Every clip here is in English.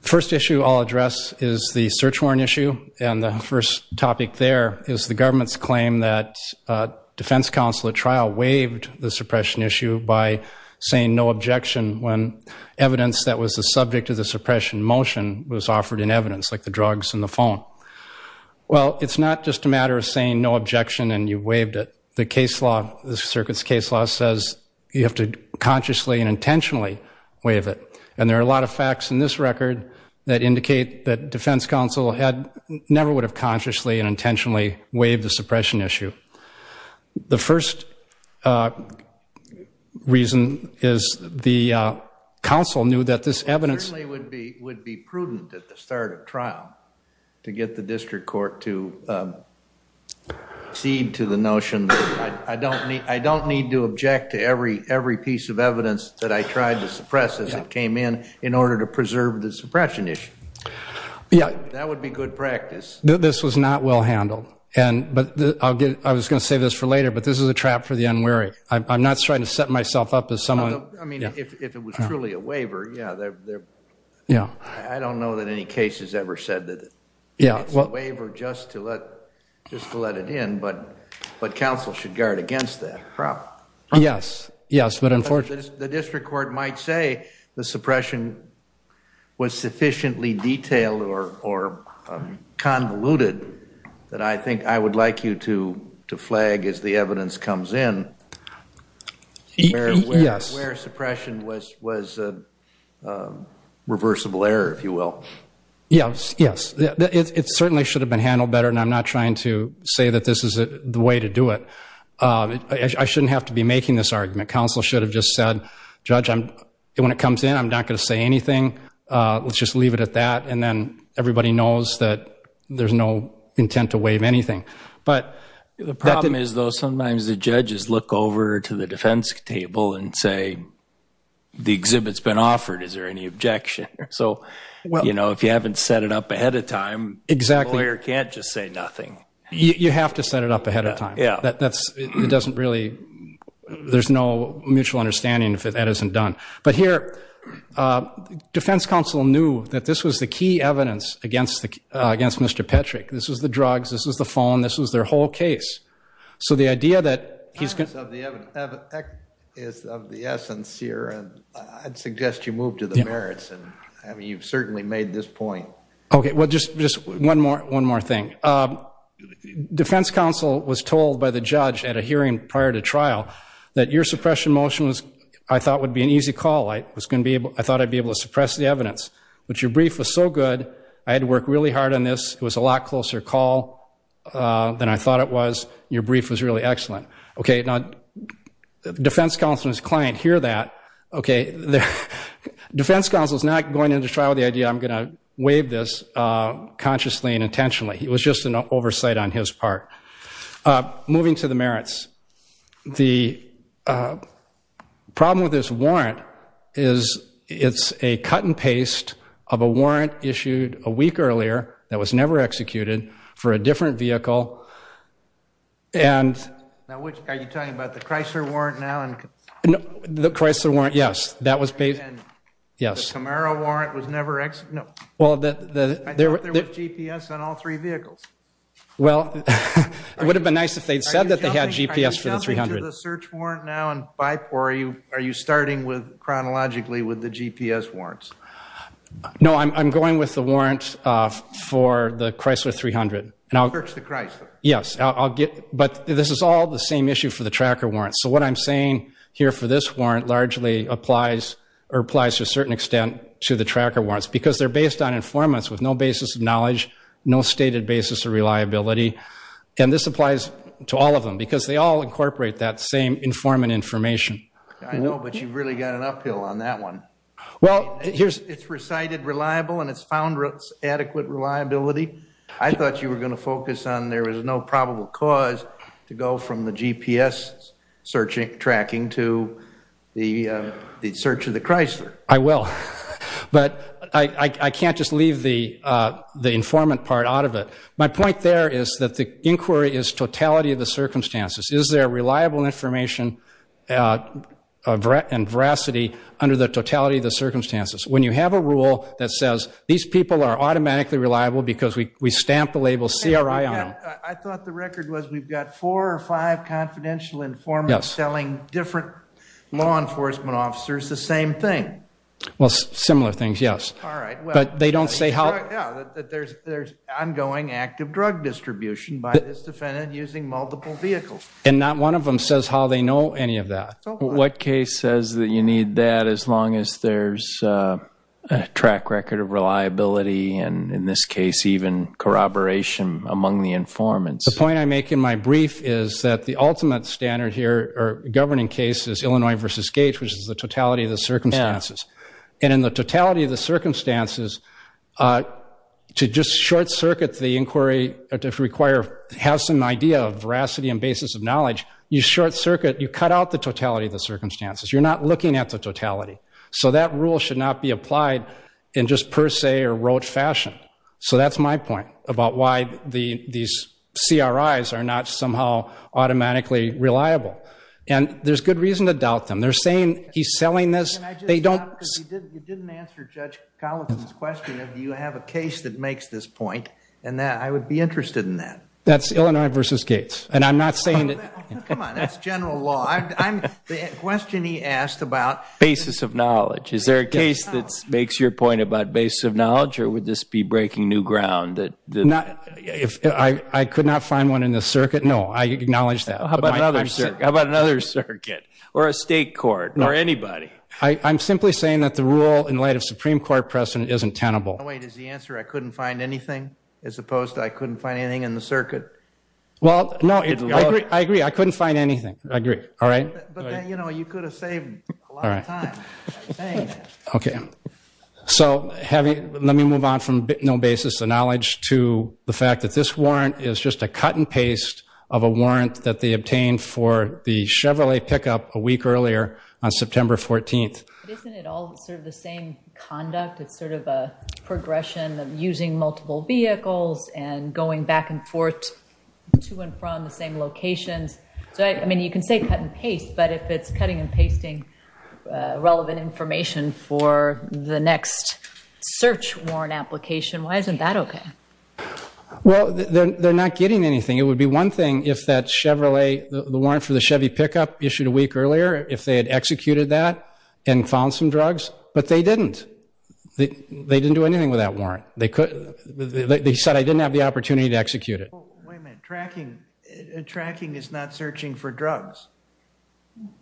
First issue I'll address is the search warrant issue and the first topic there is the government's claim that defense counsel at trial waived the suppression issue by saying no objection when evidence that was the subject of the suppression motion was offered in evidence like the drugs and the phone. Well it's not just a matter of saying no objection and you waived it. The case law, the circuit's case law, says you have to consciously and intentionally waive it and there are a lot of facts in this record that indicate that defense counsel had never would have consciously and intentionally waived the suppression issue. The first reason is the counsel knew that this evidence would be would be prudent at the start of trial to get the district court to cede to the notion that I don't need I don't need to object to every every piece of evidence that I tried to suppress as it came in in order to preserve the suppression issue. Yeah. That would be good practice. This was not well handled and but I'll get I was gonna say this for later but this is a trap for the unwary. I'm not trying to set myself up as someone. I mean if it was truly a waiver yeah there yeah I don't know that any case has ever said that yeah well waiver just to let just to let it in but but counsel should guard against that problem. Yes yes but the district court might say the suppression was sufficiently detailed or convoluted that I think I would like you to to flag as the evidence comes in. Yes. Where suppression was was a reversible error if you will. Yes yes it certainly should have been handled better and I'm not trying to say that this is a way to do it. I shouldn't have to be making this argument. Counsel should have just said judge I'm when it comes in I'm not gonna say anything let's just leave it at that and then everybody knows that there's no intent to waive anything. But the problem is though sometimes the judges look over to the defense table and say the exhibits been offered is there any objection? So well you know if you haven't set it up ahead of time lawyer can't just say nothing. You have to set it up ahead of time. Yeah that's it doesn't really there's no mutual understanding if that isn't done. But here defense counsel knew that this was the key evidence against the against Mr. Petrick. This was the drugs this was the phone this was their whole case. So the idea that he's of the essence here I'd suggest you move to the merits and I mean you've certainly made this point. Okay well just just one more one more thing. Defense counsel was told by the judge at a hearing prior to trial that your suppression motion was I thought would be an easy call. I was gonna be able I thought I'd be able to suppress the evidence. But your brief was so good I had to work really hard on this. It was a lot closer call than I thought it was. Your brief was really excellent. Okay now defense counsel and his client hear that. Okay the defense counsel is not going into trial the idea I'm gonna waive this consciously and this part. Moving to the merits. The problem with this warrant is it's a cut and paste of a warrant issued a week earlier that was never executed for a different vehicle. And now which are you talking about the Chrysler warrant now? No the Chrysler warrant yes that was paid yes. The Camaro warrant was never executed. I thought there was GPS on all three vehicles. Well it would have been nice if they'd said that they had GPS for the 300. Are you jumping to the search warrant now and BIPOR? Are you starting with chronologically with the GPS warrants? No I'm going with the warrant for the Chrysler 300. Search the Chrysler. Yes I'll get but this is all the same issue for the tracker warrant. So what I'm saying here for this warrant largely applies or applies to a certain extent to the tracker warrants because they're based on informants with no basis of knowledge, no stated basis of reliability. And this applies to all of them because they all incorporate that same informant information. I know but you've really got an uphill on that one. Well here's it's recited reliable and it's found routes adequate reliability. I thought you were going to focus on there is no probable cause to go from the GPS searching tracking to the search of the Chrysler. I will but I can't just leave the the informant part out of it. My point there is that the inquiry is totality of the circumstances. Is there reliable information and veracity under the totality of the circumstances? When you have a rule that says these people are automatically reliable because we we stamp the label CRI on them. I thought the informants selling different law enforcement officers the same thing. Well similar things yes. But they don't say how there's ongoing active drug distribution by this defendant using multiple vehicles. And not one of them says how they know any of that. What case says that you need that as long as there's a track record of reliability and in this case even corroboration among the informants. The point I make in my brief is that the ultimate standard here or governing cases Illinois versus Gates which is the totality of the circumstances. And in the totality of the circumstances to just short-circuit the inquiry to require have some idea of veracity and basis of knowledge you short-circuit you cut out the totality of the circumstances. You're not looking at the totality. So that rule should not be applied in just per se or rote fashion. So that's my point about why the these CRIs are not somehow automatically reliable. And there's good reason to doubt them. They're saying he's selling this. They don't. You didn't answer Judge Collins' question of do you have a case that makes this point. And that I would be interested in that. That's Illinois versus Gates. And I'm not saying. Come on that's general law. I'm the question he asked about. Basis of knowledge. Is there a case that makes your point about base of knowledge or would this be breaking new ground? I could not find one in the circuit. No I acknowledge that. How about another circuit or a state court or anybody? I'm simply saying that the rule in light of Supreme Court precedent isn't tenable. Wait is the answer I couldn't find anything as opposed to I couldn't find anything in the circuit? Well no I agree I couldn't find anything. I agree. All right. Okay. So let me move on from no basis of knowledge to the fact that this warrant is just a cut and paste of a warrant that they obtained for the Chevrolet pickup a week earlier on September 14th. Isn't it all sort of the same conduct? It's sort of a progression of using multiple vehicles and going back and forth to and from the locations. So I mean you can say cut and paste but if it's cutting and pasting relevant information for the next search warrant application why isn't that okay? Well they're not getting anything. It would be one thing if that Chevrolet the warrant for the Chevy pickup issued a week earlier if they had executed that and found some drugs. But they didn't. They didn't do anything with that warrant. They said I didn't have the opportunity to execute it. Tracking is not searching for drugs.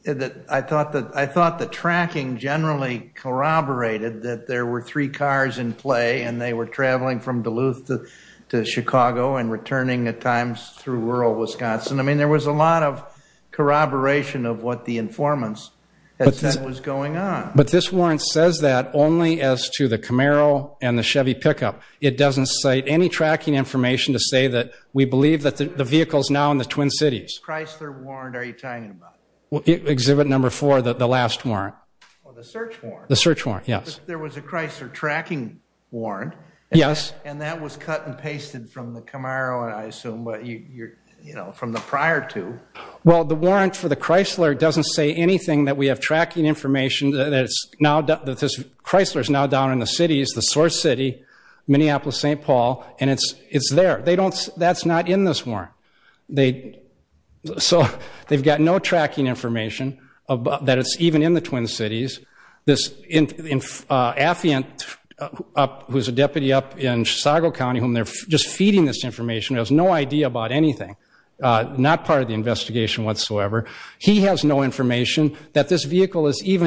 I thought that I thought the tracking generally corroborated that there were three cars in play and they were traveling from Duluth to Chicago and returning at times through rural Wisconsin. I mean there was a lot of corroboration of what the informants that was going on. But this warrant says that only as to the Camaro and the Chevy pickup. It doesn't cite any tracking information to say that we believe that the vehicles now in the Twin Cities. Chrysler warrant are you talking about? Exhibit number four that the last warrant. The search warrant. The search warrant yes. There was a Chrysler tracking warrant. Yes. And that was cut and pasted from the Camaro and I assume you're you know from the prior to. Well the warrant for the Chrysler doesn't say anything that we have tracking information that it's now that this Chrysler is now down in the cities the source city Minneapolis St. Paul and it's it's there they don't that's not in this warrant. They so they've got no tracking information about that it's even in the Twin Cities. This in Affiant up who's a deputy up in Chicago County whom they're just feeding this information has no idea about anything not part of the even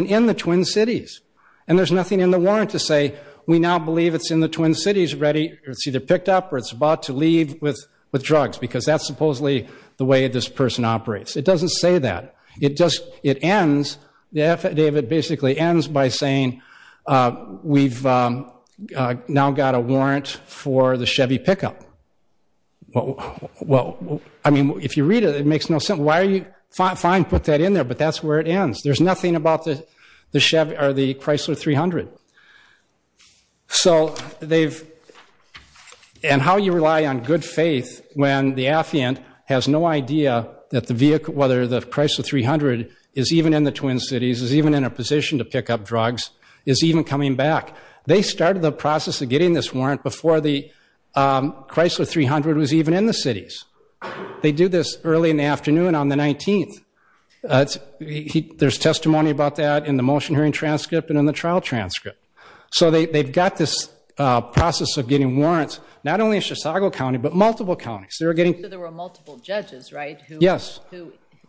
in the Twin Cities. And there's nothing in the warrant to say we now believe it's in the Twin Cities ready it's either picked up or it's about to leave with drugs because that's supposedly the way this person operates. It doesn't say that. It just it ends the affidavit basically ends by saying we've now got a warrant for the Chevy pickup. Well I mean if you read it it makes no sense. Why are you fine fine put that in there but that's where it ends. There's nothing about the Chevy or the Chrysler 300. So they've and how you rely on good faith when the Affiant has no idea that the vehicle whether the Chrysler 300 is even in the Twin Cities is even in a position to pick up drugs is even coming back. They started the process of getting this warrant before the Chrysler 300 was even in the cities. They do this early in the afternoon on the 19th. There's testimony about that in the motion hearing transcript and in the trial transcript. So they've got this process of getting warrants not only in Chisago County but multiple counties. So there were multiple judges right? Yes.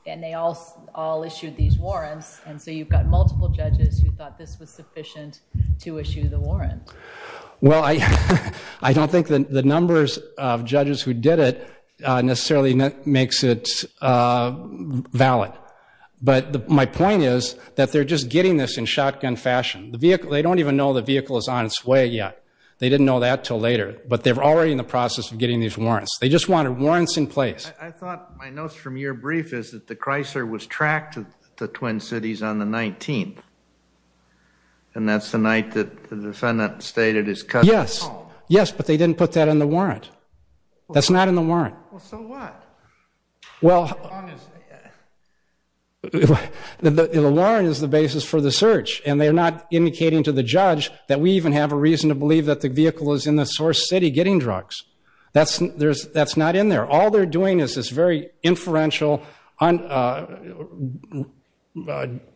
And they all issued these warrants and so you've got multiple judges who thought this was sufficient to issue the warrant. Well I don't think that the numbers of judges who did it necessarily makes it valid. But my point is that they're just getting this in shotgun fashion. The vehicle they don't even know the vehicle is on its way yet. They didn't know that till later. But they're already in the process of getting these warrants. They just wanted warrants in place. I thought my notes from your brief is that the Chrysler was tracked to the defendant stated his cousin's home. Yes but they didn't put that in the warrant. That's not in the warrant. Well so what? Well the warrant is the basis for the search and they're not indicating to the judge that we even have a reason to believe that the vehicle is in the source city getting drugs. That's not in there. All they're doing is this very inferential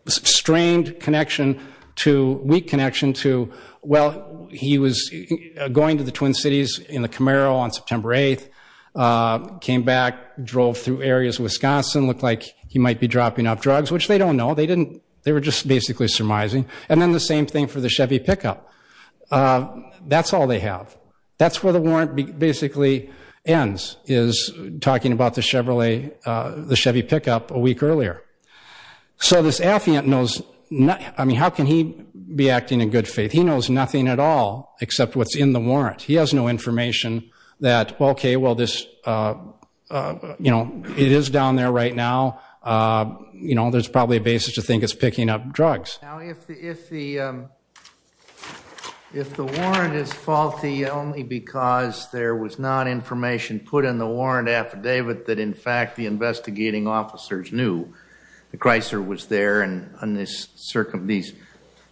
strained connection to weak connection to well he was going to the Twin Cities in the Camaro on September 8th came back drove through areas Wisconsin looked like he might be dropping off drugs which they don't know they didn't they were just basically surmising and then the same thing for the Chevy pickup. That's all they have. That's where the warrant basically ends is talking about the Chevrolet the Chevy pickup a week earlier. So this affiant knows not I mean how can he be acting in good faith he knows nothing at all except what's in the warrant. He has no information that okay well this you know it is down there right now you know there's probably a basis to think it's picking up drugs. Now if the if the if the warrant is faulty only because there was not information put in the warrant affidavit that in fact the investigating officers knew the Chrysler was there and on this circum these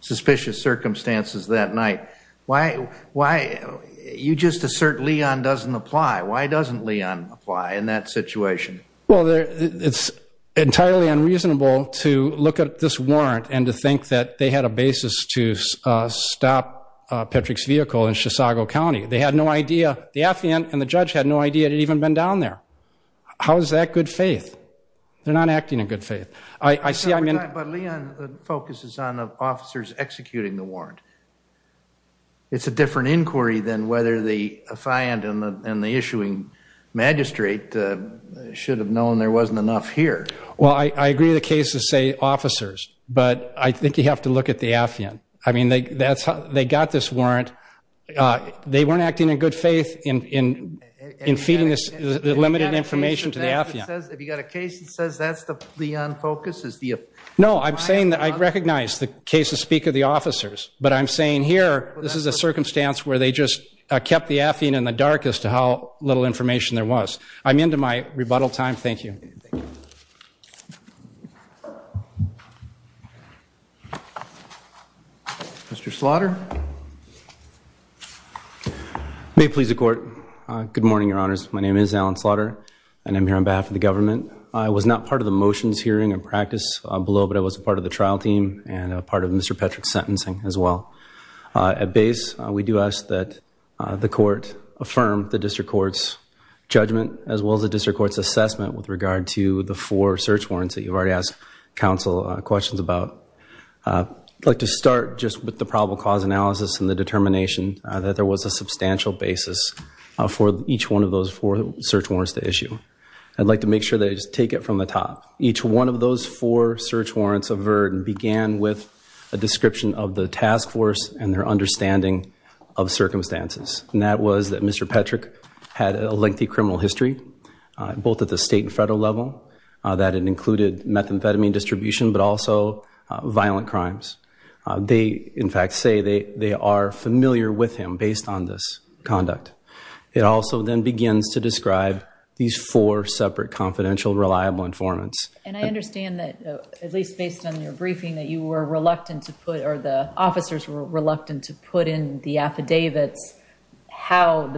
suspicious circumstances that night why why you just assert Leon doesn't apply why doesn't Leon apply in that situation? Well there it's entirely unreasonable to look at this warrant and to think that they had a basis to stop Patrick's vehicle in Chisago County. They had no idea the affiant and the judge had no idea it had even been down there. How is that good faith? They're not acting in good faith. I see I mean but Leon focuses on officers executing the warrant. It's a different inquiry than whether the should have known there wasn't enough here. Well I agree the cases say officers but I think you have to look at the affiant. I mean they that's how they got this warrant. They weren't acting in good faith in in in feeding this limited information to the affiant. No I'm saying that I recognize the cases speak of the officers but I'm saying here this is a circumstance where they just kept the affiant in the dark as to how little information there was. I'm into my rebuttal time. Thank you. Mr. Slaughter. May it please the court. Good morning your honors. My name is Alan Slaughter and I'm here on behalf of the government. I was not part of the motions hearing and practice below but I was a part of the trial team and a part of Mr. Patrick's sentencing as well. At base we do ask that the court affirm the assessment with regard to the four search warrants that you've already asked counsel questions about. I'd like to start just with the probable cause analysis and the determination that there was a substantial basis for each one of those four search warrants to issue. I'd like to make sure they just take it from the top. Each one of those four search warrants averted began with a description of the task force and their understanding of circumstances and that was that Mr. Patrick had a lengthy criminal history both at the state and federal level that it included methamphetamine distribution but also violent crimes. They in fact say they they are familiar with him based on this conduct. It also then begins to describe these four separate confidential reliable informants. And I understand that at least based on your briefing that you were reluctant to put or the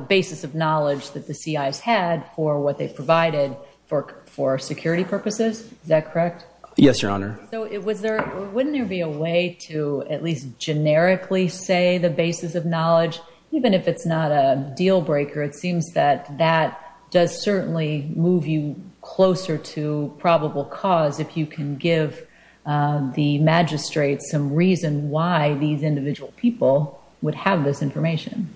basis of knowledge that the C.I.'s had for what they provided for for security purposes. Is that correct? Yes your honor. So it was there wouldn't there be a way to at least generically say the basis of knowledge even if it's not a deal breaker it seems that that does certainly move you closer to probable cause if you can give the magistrates some reason why these individual people would have this information.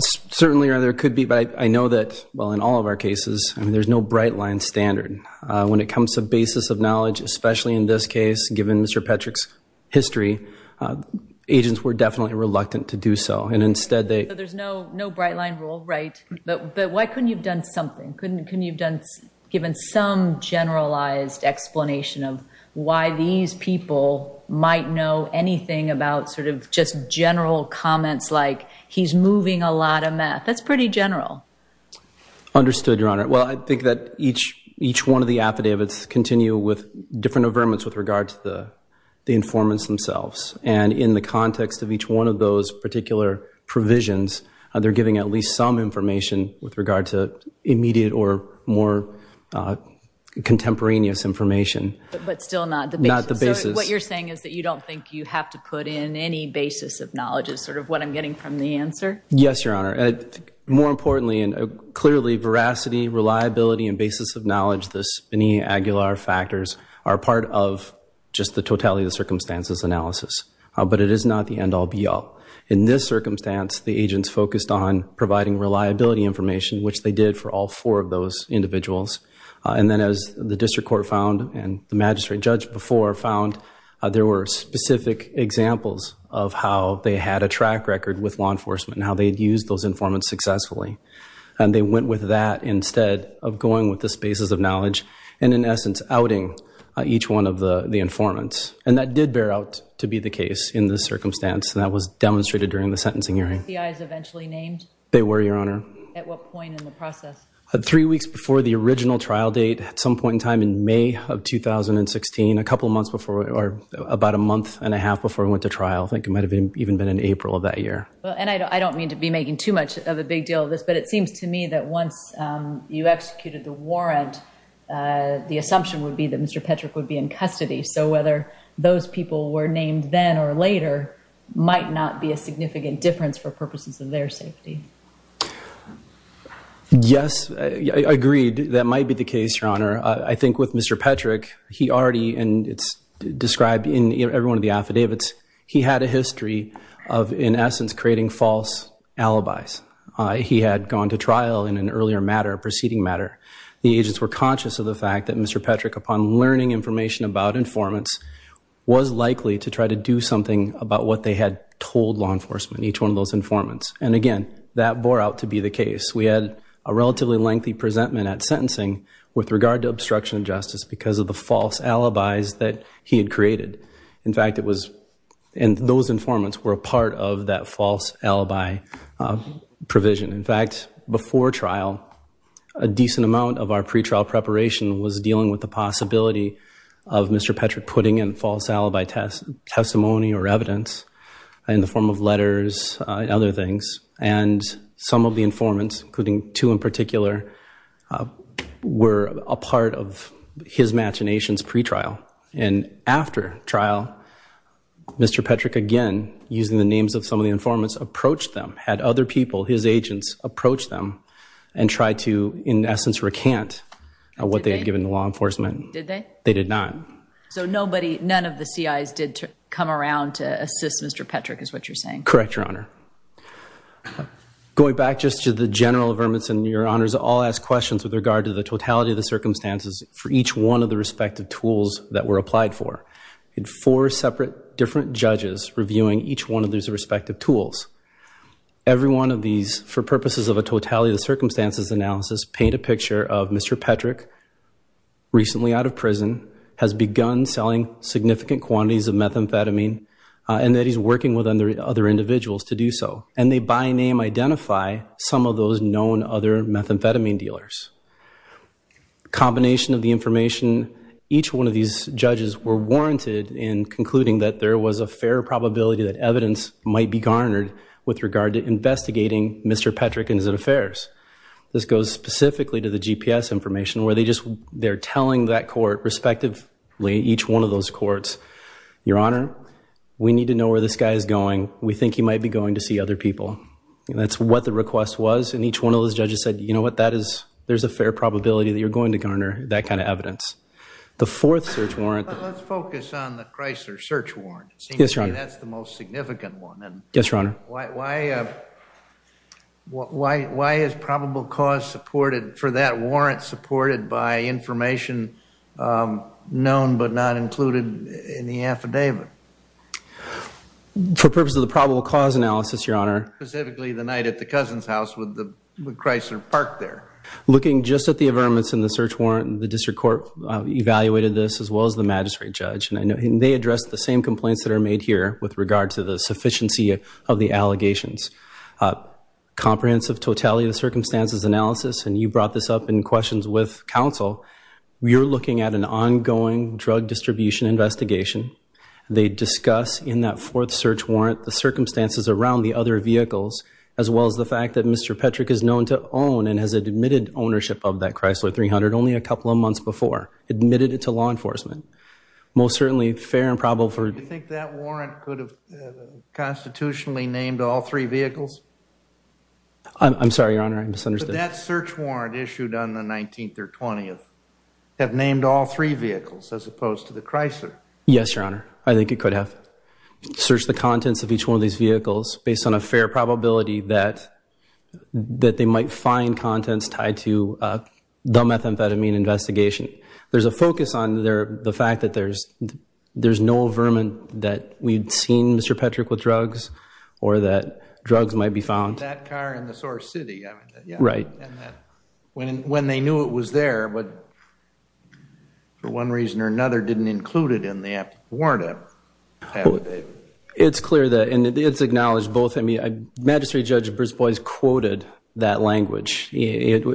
Certainly your honor there could be but I know that well in all of our cases there's no bright line standard when it comes to basis of knowledge especially in this case given Mr. Patrick's history agents were definitely reluctant to do so and instead they. There's no no bright line rule right but why couldn't you've done something couldn't couldn't you've done given some generalized explanation of why these people might know anything about sort of just general comments like he's moving a lot of meth. That's pretty general. Understood your honor. Well I think that each each one of the affidavits continue with different averments with regard to the informants themselves and in the context of each one of those particular provisions they're giving at least some information with regard to immediate or more contemporaneous information. But still not the basis. What you're saying is that you don't think you have to put in any basis of knowledge is sort of what I'm getting from the answer. Yes your honor. More importantly and clearly veracity reliability and basis of knowledge this many Aguilar factors are part of just the totality of the circumstances analysis but it is not the end all be all. In this circumstance the agents focused on providing reliability information which they did for all four of those individuals and then as the district court found and the magistrate judge before found there were specific examples of how they had a track record with law enforcement and how they had used those informants successfully and they went with that instead of going with the basis of knowledge and in essence outing each one of the informants and that did bear out to be the case in this circumstance and that was demonstrated during the sentencing hearing. Were the C.I.s eventually named? They were your honor. At what point in the process? Three weeks before the original trial date at some point in time in May of 2016 a couple months before or about a month and a half before we went to trial. I think it might have been even been in April of that year. And I don't mean to be making too much of a big deal of this but it seems to me that once you executed the warrant the assumption would be that Mr. Patrick would be in custody so whether those people were named then or later might not be a significant difference for purposes of their safety. Yes I agreed that might be the case your honor. I think with Mr. Patrick he already and it's described in every one of the affidavits he had a history of in essence creating false alibis. He had gone to trial in an earlier matter a preceding matter. The agents were conscious of the fact that Mr. Patrick upon learning information about informants was likely to try to do something about what they had told law enforcement each one of those informants. And again that bore out to be the case. We had a relatively lengthy presentment at sentencing with regard to obstruction of justice because of the false alibis that he had created. In fact it was and those informants were a part of that false alibi provision. In fact before trial a decent amount of our pretrial preparation was dealing with the possibility of Mr. Patrick putting in false alibi testimony or evidence in the form of letters and other things. And some of the informants including two in particular were a part of his imaginations pretrial. And after trial Mr. Patrick again using the names of some of the informants approached them had other people his agents approached them and tried to in the law enforcement. Did they? They did not. So nobody none of the C.I.'s did come around to assist Mr. Patrick is what you're saying. Correct Your Honor. Going back just to the general affirmance and your honors all asked questions with regard to the totality of the circumstances for each one of the respective tools that were applied for. Four separate different judges reviewing each one of these respective tools. Every one of these for recently out of prison has begun selling significant quantities of methamphetamine and that he's working with other individuals to do so. And they by name identify some of those known other methamphetamine dealers. Combination of the information each one of these judges were warranted in concluding that there was a fair probability that evidence might be garnered with regard to investigating Mr. Patrick and his affairs. This goes specifically to the GPS information where they just they're telling that court respectively each one of those courts. Your Honor we need to know where this guy is going. We think he might be going to see other people. And that's what the request was. And each one of those judges said you know what that is. There's a fair probability that you're going to garner that kind of evidence. The fourth search warrant. Let's focus on the Chrysler search warrant. Yes, Your Honor. Why is probable cause supported for that warrant supported by information known but not included in the affidavit? For purpose of the probable cause analysis, Your Honor. Specifically the night at the Cousin's house with Chrysler parked there. Looking just at the complaints that are made here with regard to the sufficiency of the allegations. Comprehensive totality of the circumstances analysis. And you brought this up in questions with counsel. We are looking at an ongoing drug distribution investigation. They discuss in that fourth search warrant the circumstances around the other vehicles. As well as the fact that Mr. Patrick is known to own and has admitted ownership of that Chrysler 300 only a couple of months before. Admitted it to law enforcement. Most certainly fair and probable for Do you think that warrant could have constitutionally named all three vehicles? I'm sorry, Your Honor. I misunderstood. But that search warrant issued on the 19th or 20th have named all three vehicles as opposed to the Chrysler. Yes, Your Honor. I think it could have. Search the contents of each one of these vehicles based on a fair probability that they might find contents tied to the methamphetamine investigation. There's a focus on the fact that there's no vermin that we'd seen Mr. Patrick with drugs or that drugs might be found. That car in the source city. Right. When they knew it was there but for one reason or another didn't include it in the warrant It's clear that it's acknowledged both. I mean, Magistrate Judge Brisbois quoted that language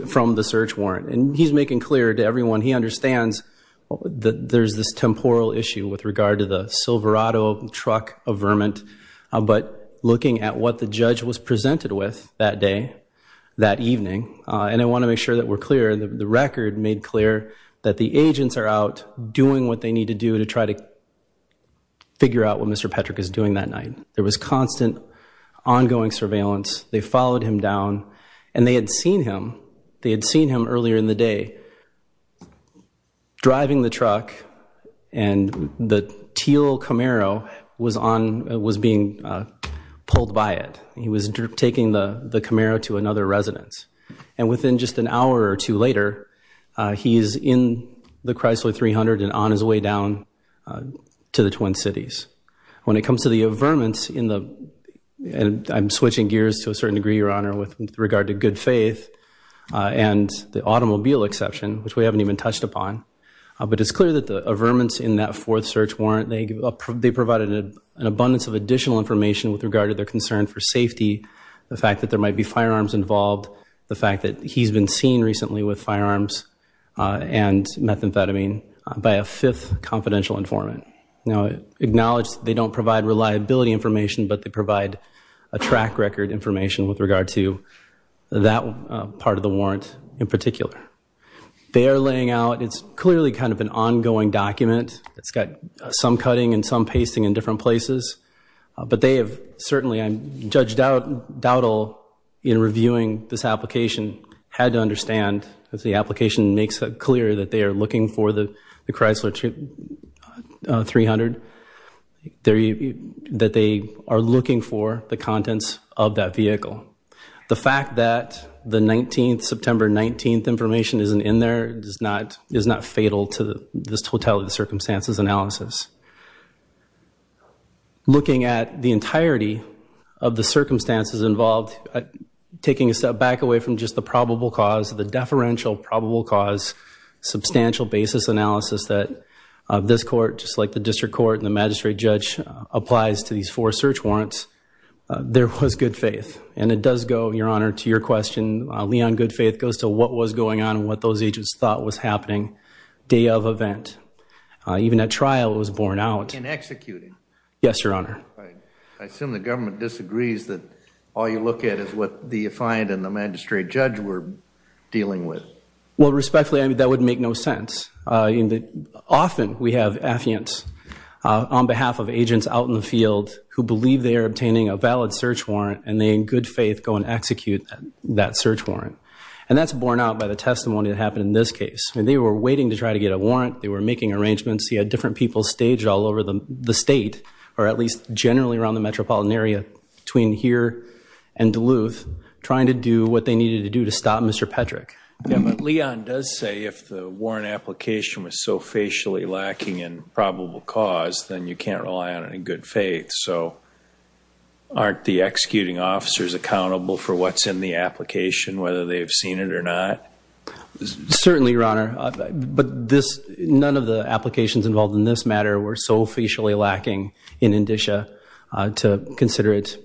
from the search warrant and he's making clear to everyone he understands that there's this temporal issue with regard to the Silverado truck of vermin. But looking at what the judge was presented with that day that evening and I want to make sure that we're clear that the record made clear that the agents are out doing what they need to do to try to figure out what Mr. Patrick is doing that night. There was constant ongoing surveillance. They followed him down and they had seen him. They had seen him earlier in the day driving the truck and the teal Camaro was on was being pulled by it. He was taking the Camaro to another residence. And within just an hour or two later, he's in the Chrysler 300 and on his way down to the Twin Cities. When it comes to the averments in the and I'm switching gears to a certain degree, Your Honor, with regard to good faith and the automobile exception, which we haven't even touched upon. But it's clear that the averments in that fourth search warrant, they provided an abundance of additional information with regard to their concern for safety. The fact that there might be firearms involved, the fact that he's been seen recently with firearms and methamphetamine by a fifth confidential informant. Now, acknowledge that they don't provide reliability information, but they provide a track record information with regard to that part of the warrant in particular. They are laying out it's clearly kind of an ongoing document. It's got some cutting and some pasting in different places, but they have certainly I'm judged out doubt all in reviewing this application had to understand as the application makes it clear that they are looking for the Chrysler to 300 that they are looking for the contents of that vehicle. The fact that the 19th September 19th information isn't in there does not is not fatal to this totality of the circumstances analysis. Looking at the entirety of the circumstances involved, taking a step back away from just the probable cause of the deferential probable cause substantial basis analysis that this court just like the district court and the magistrate judge applies to these four search warrants. There was good faith and it does go your honor to your question. Leon, good faith goes to what was going on and what those agents thought was happening. Day of event, even at trial, it was borne out in executing. Yes, your honor. I assume the government disagrees that all you look at is what the find in the magistrate judge were dealing with. Well, respectfully, I mean, that would make no sense. Often we have affiance on behalf of agents out in the field who believe they are obtaining a valid search warrant and they in good faith go and execute that search warrant. And that's borne out by the testimony that happened in this case. I mean, they were waiting to try to get a warrant. They were making arrangements. He had different people staged all over the state or at least generally around the metropolitan area between here and Duluth trying to do what they needed to do to stop Mr. Patrick. Leon does say if the warrant application was so facially lacking in probable cause, then you can't rely on it in good faith. So aren't the executing officers accountable for what's in the application, whether they've seen it or not? Certainly, your honor. But this none of the applications involved in this matter were so facially lacking in indicia to consider it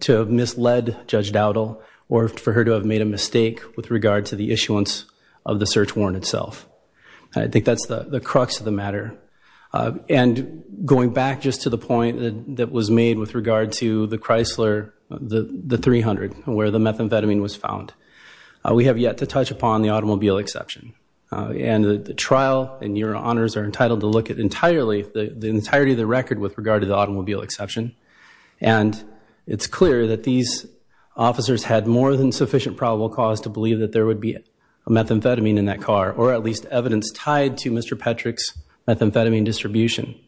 to have misled Judge Dowdle or for her to have made a mistake with regard to the issuance of the search warrant itself. I think that's the crux of the matter. And going back just to the point that was made with regard to the Chrysler, the 300 where the methamphetamine was found, we have yet to touch upon the automobile exception. And the trial and your honors are entitled to look at entirely the entirety of the record with regard to the automobile exception. And it's clear that these officers had more than sufficient probable cause to believe that there would be a methamphetamine in that car or at least evidence tied to Mr. Patrick's methamphetamine distribution.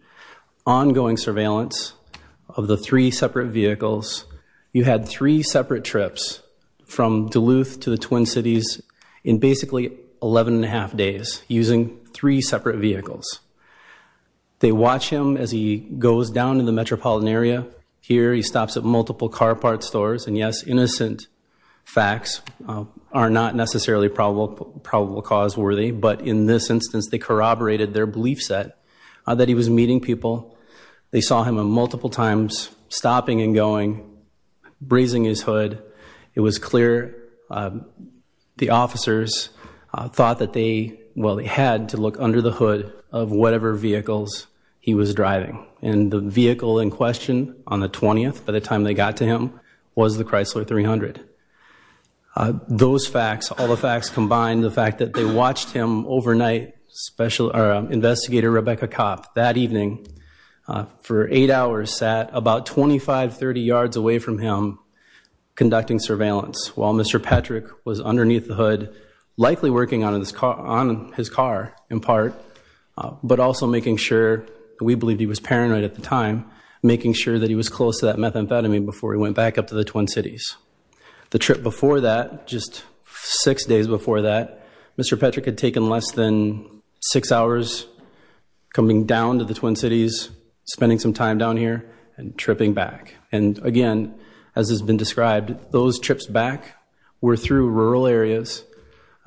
Ongoing surveillance of the three separate vehicles. You had three and a half days using three separate vehicles. They watch him as he goes down in the metropolitan area. Here he stops at multiple car parts stores. And yes, innocent facts are not necessarily probable cause worthy. But in this instance, they corroborated their belief set that he was meeting people. They saw him multiple times stopping and going, brazing his hood. It was clear the officers thought that they had to look under the hood of whatever vehicles he was driving. And the vehicle in question on the 20th, by the time they got to him, was the Chrysler 300. Those facts, all the facts combined, the fact that they watched him overnight, Investigator Rebecca Kopp, that evening for eight hours sat about 25, 30 yards away from him conducting surveillance while Mr. Patrick was underneath the hood, likely working on his car in part, but also making sure, we believed he was paranoid at the time, making sure that he was close to that methamphetamine before he went back up to the Twin Cities. The trip before that, just six days before that, Mr. Patrick had taken less than six hours coming down to the Twin Cities, spending some time down here and tripping back. And again, as has been described, those trips back were through rural areas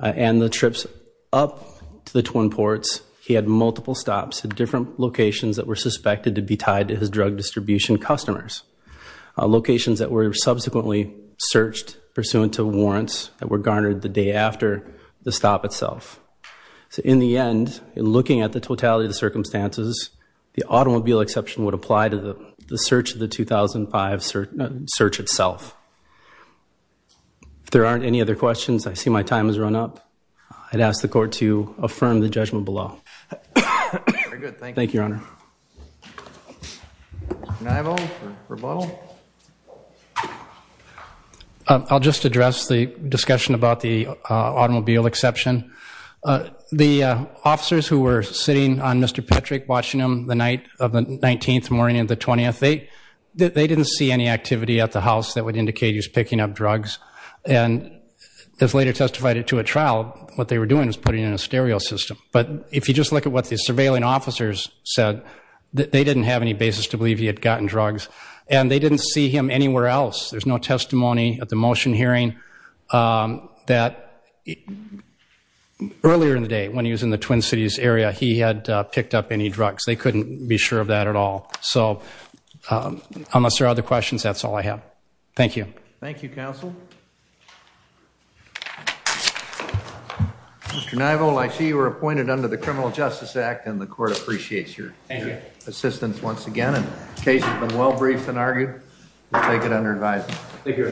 and the trips up to the Twin Ports, he had multiple stops at different locations that were suspected to be tied to his drug distribution customers. Locations that were subsequently searched pursuant to warrants that were garnered the day after the stop itself. So in the end, in looking at the totality of the circumstances, the automobile exception would apply to the search of the 2005 search itself. If there aren't any other questions, I see my time has run up. I'd ask the court to affirm the judgment below. Thank you, Your Honor. Mr. Neivo, rebuttal? I'll just address the discussion about the automobile exception. The officers who were sitting on Mr. Patrick, watching him the night of the 19th morning of the 20th, they didn't see any activity at the house that would indicate he was picking up drugs. And this later testified to a trial. What they were doing was putting in a stereo system. But if you just look at what the surveilling officers said, they didn't have any basis to believe he had gotten drugs. And they didn't see him anywhere else. There's no testimony at the motion hearing that earlier in the day, when he was in the Twin Cities area, he had picked up any drugs. They couldn't be sure of that at all. So unless there are other questions, that's all I have. Thank you. Thank you, Counsel. Mr. Neivo, I see you were appointed under the Criminal Justice Act and the court appreciates your assistance once again. The case has been well briefed and argued. We'll take it under advisement.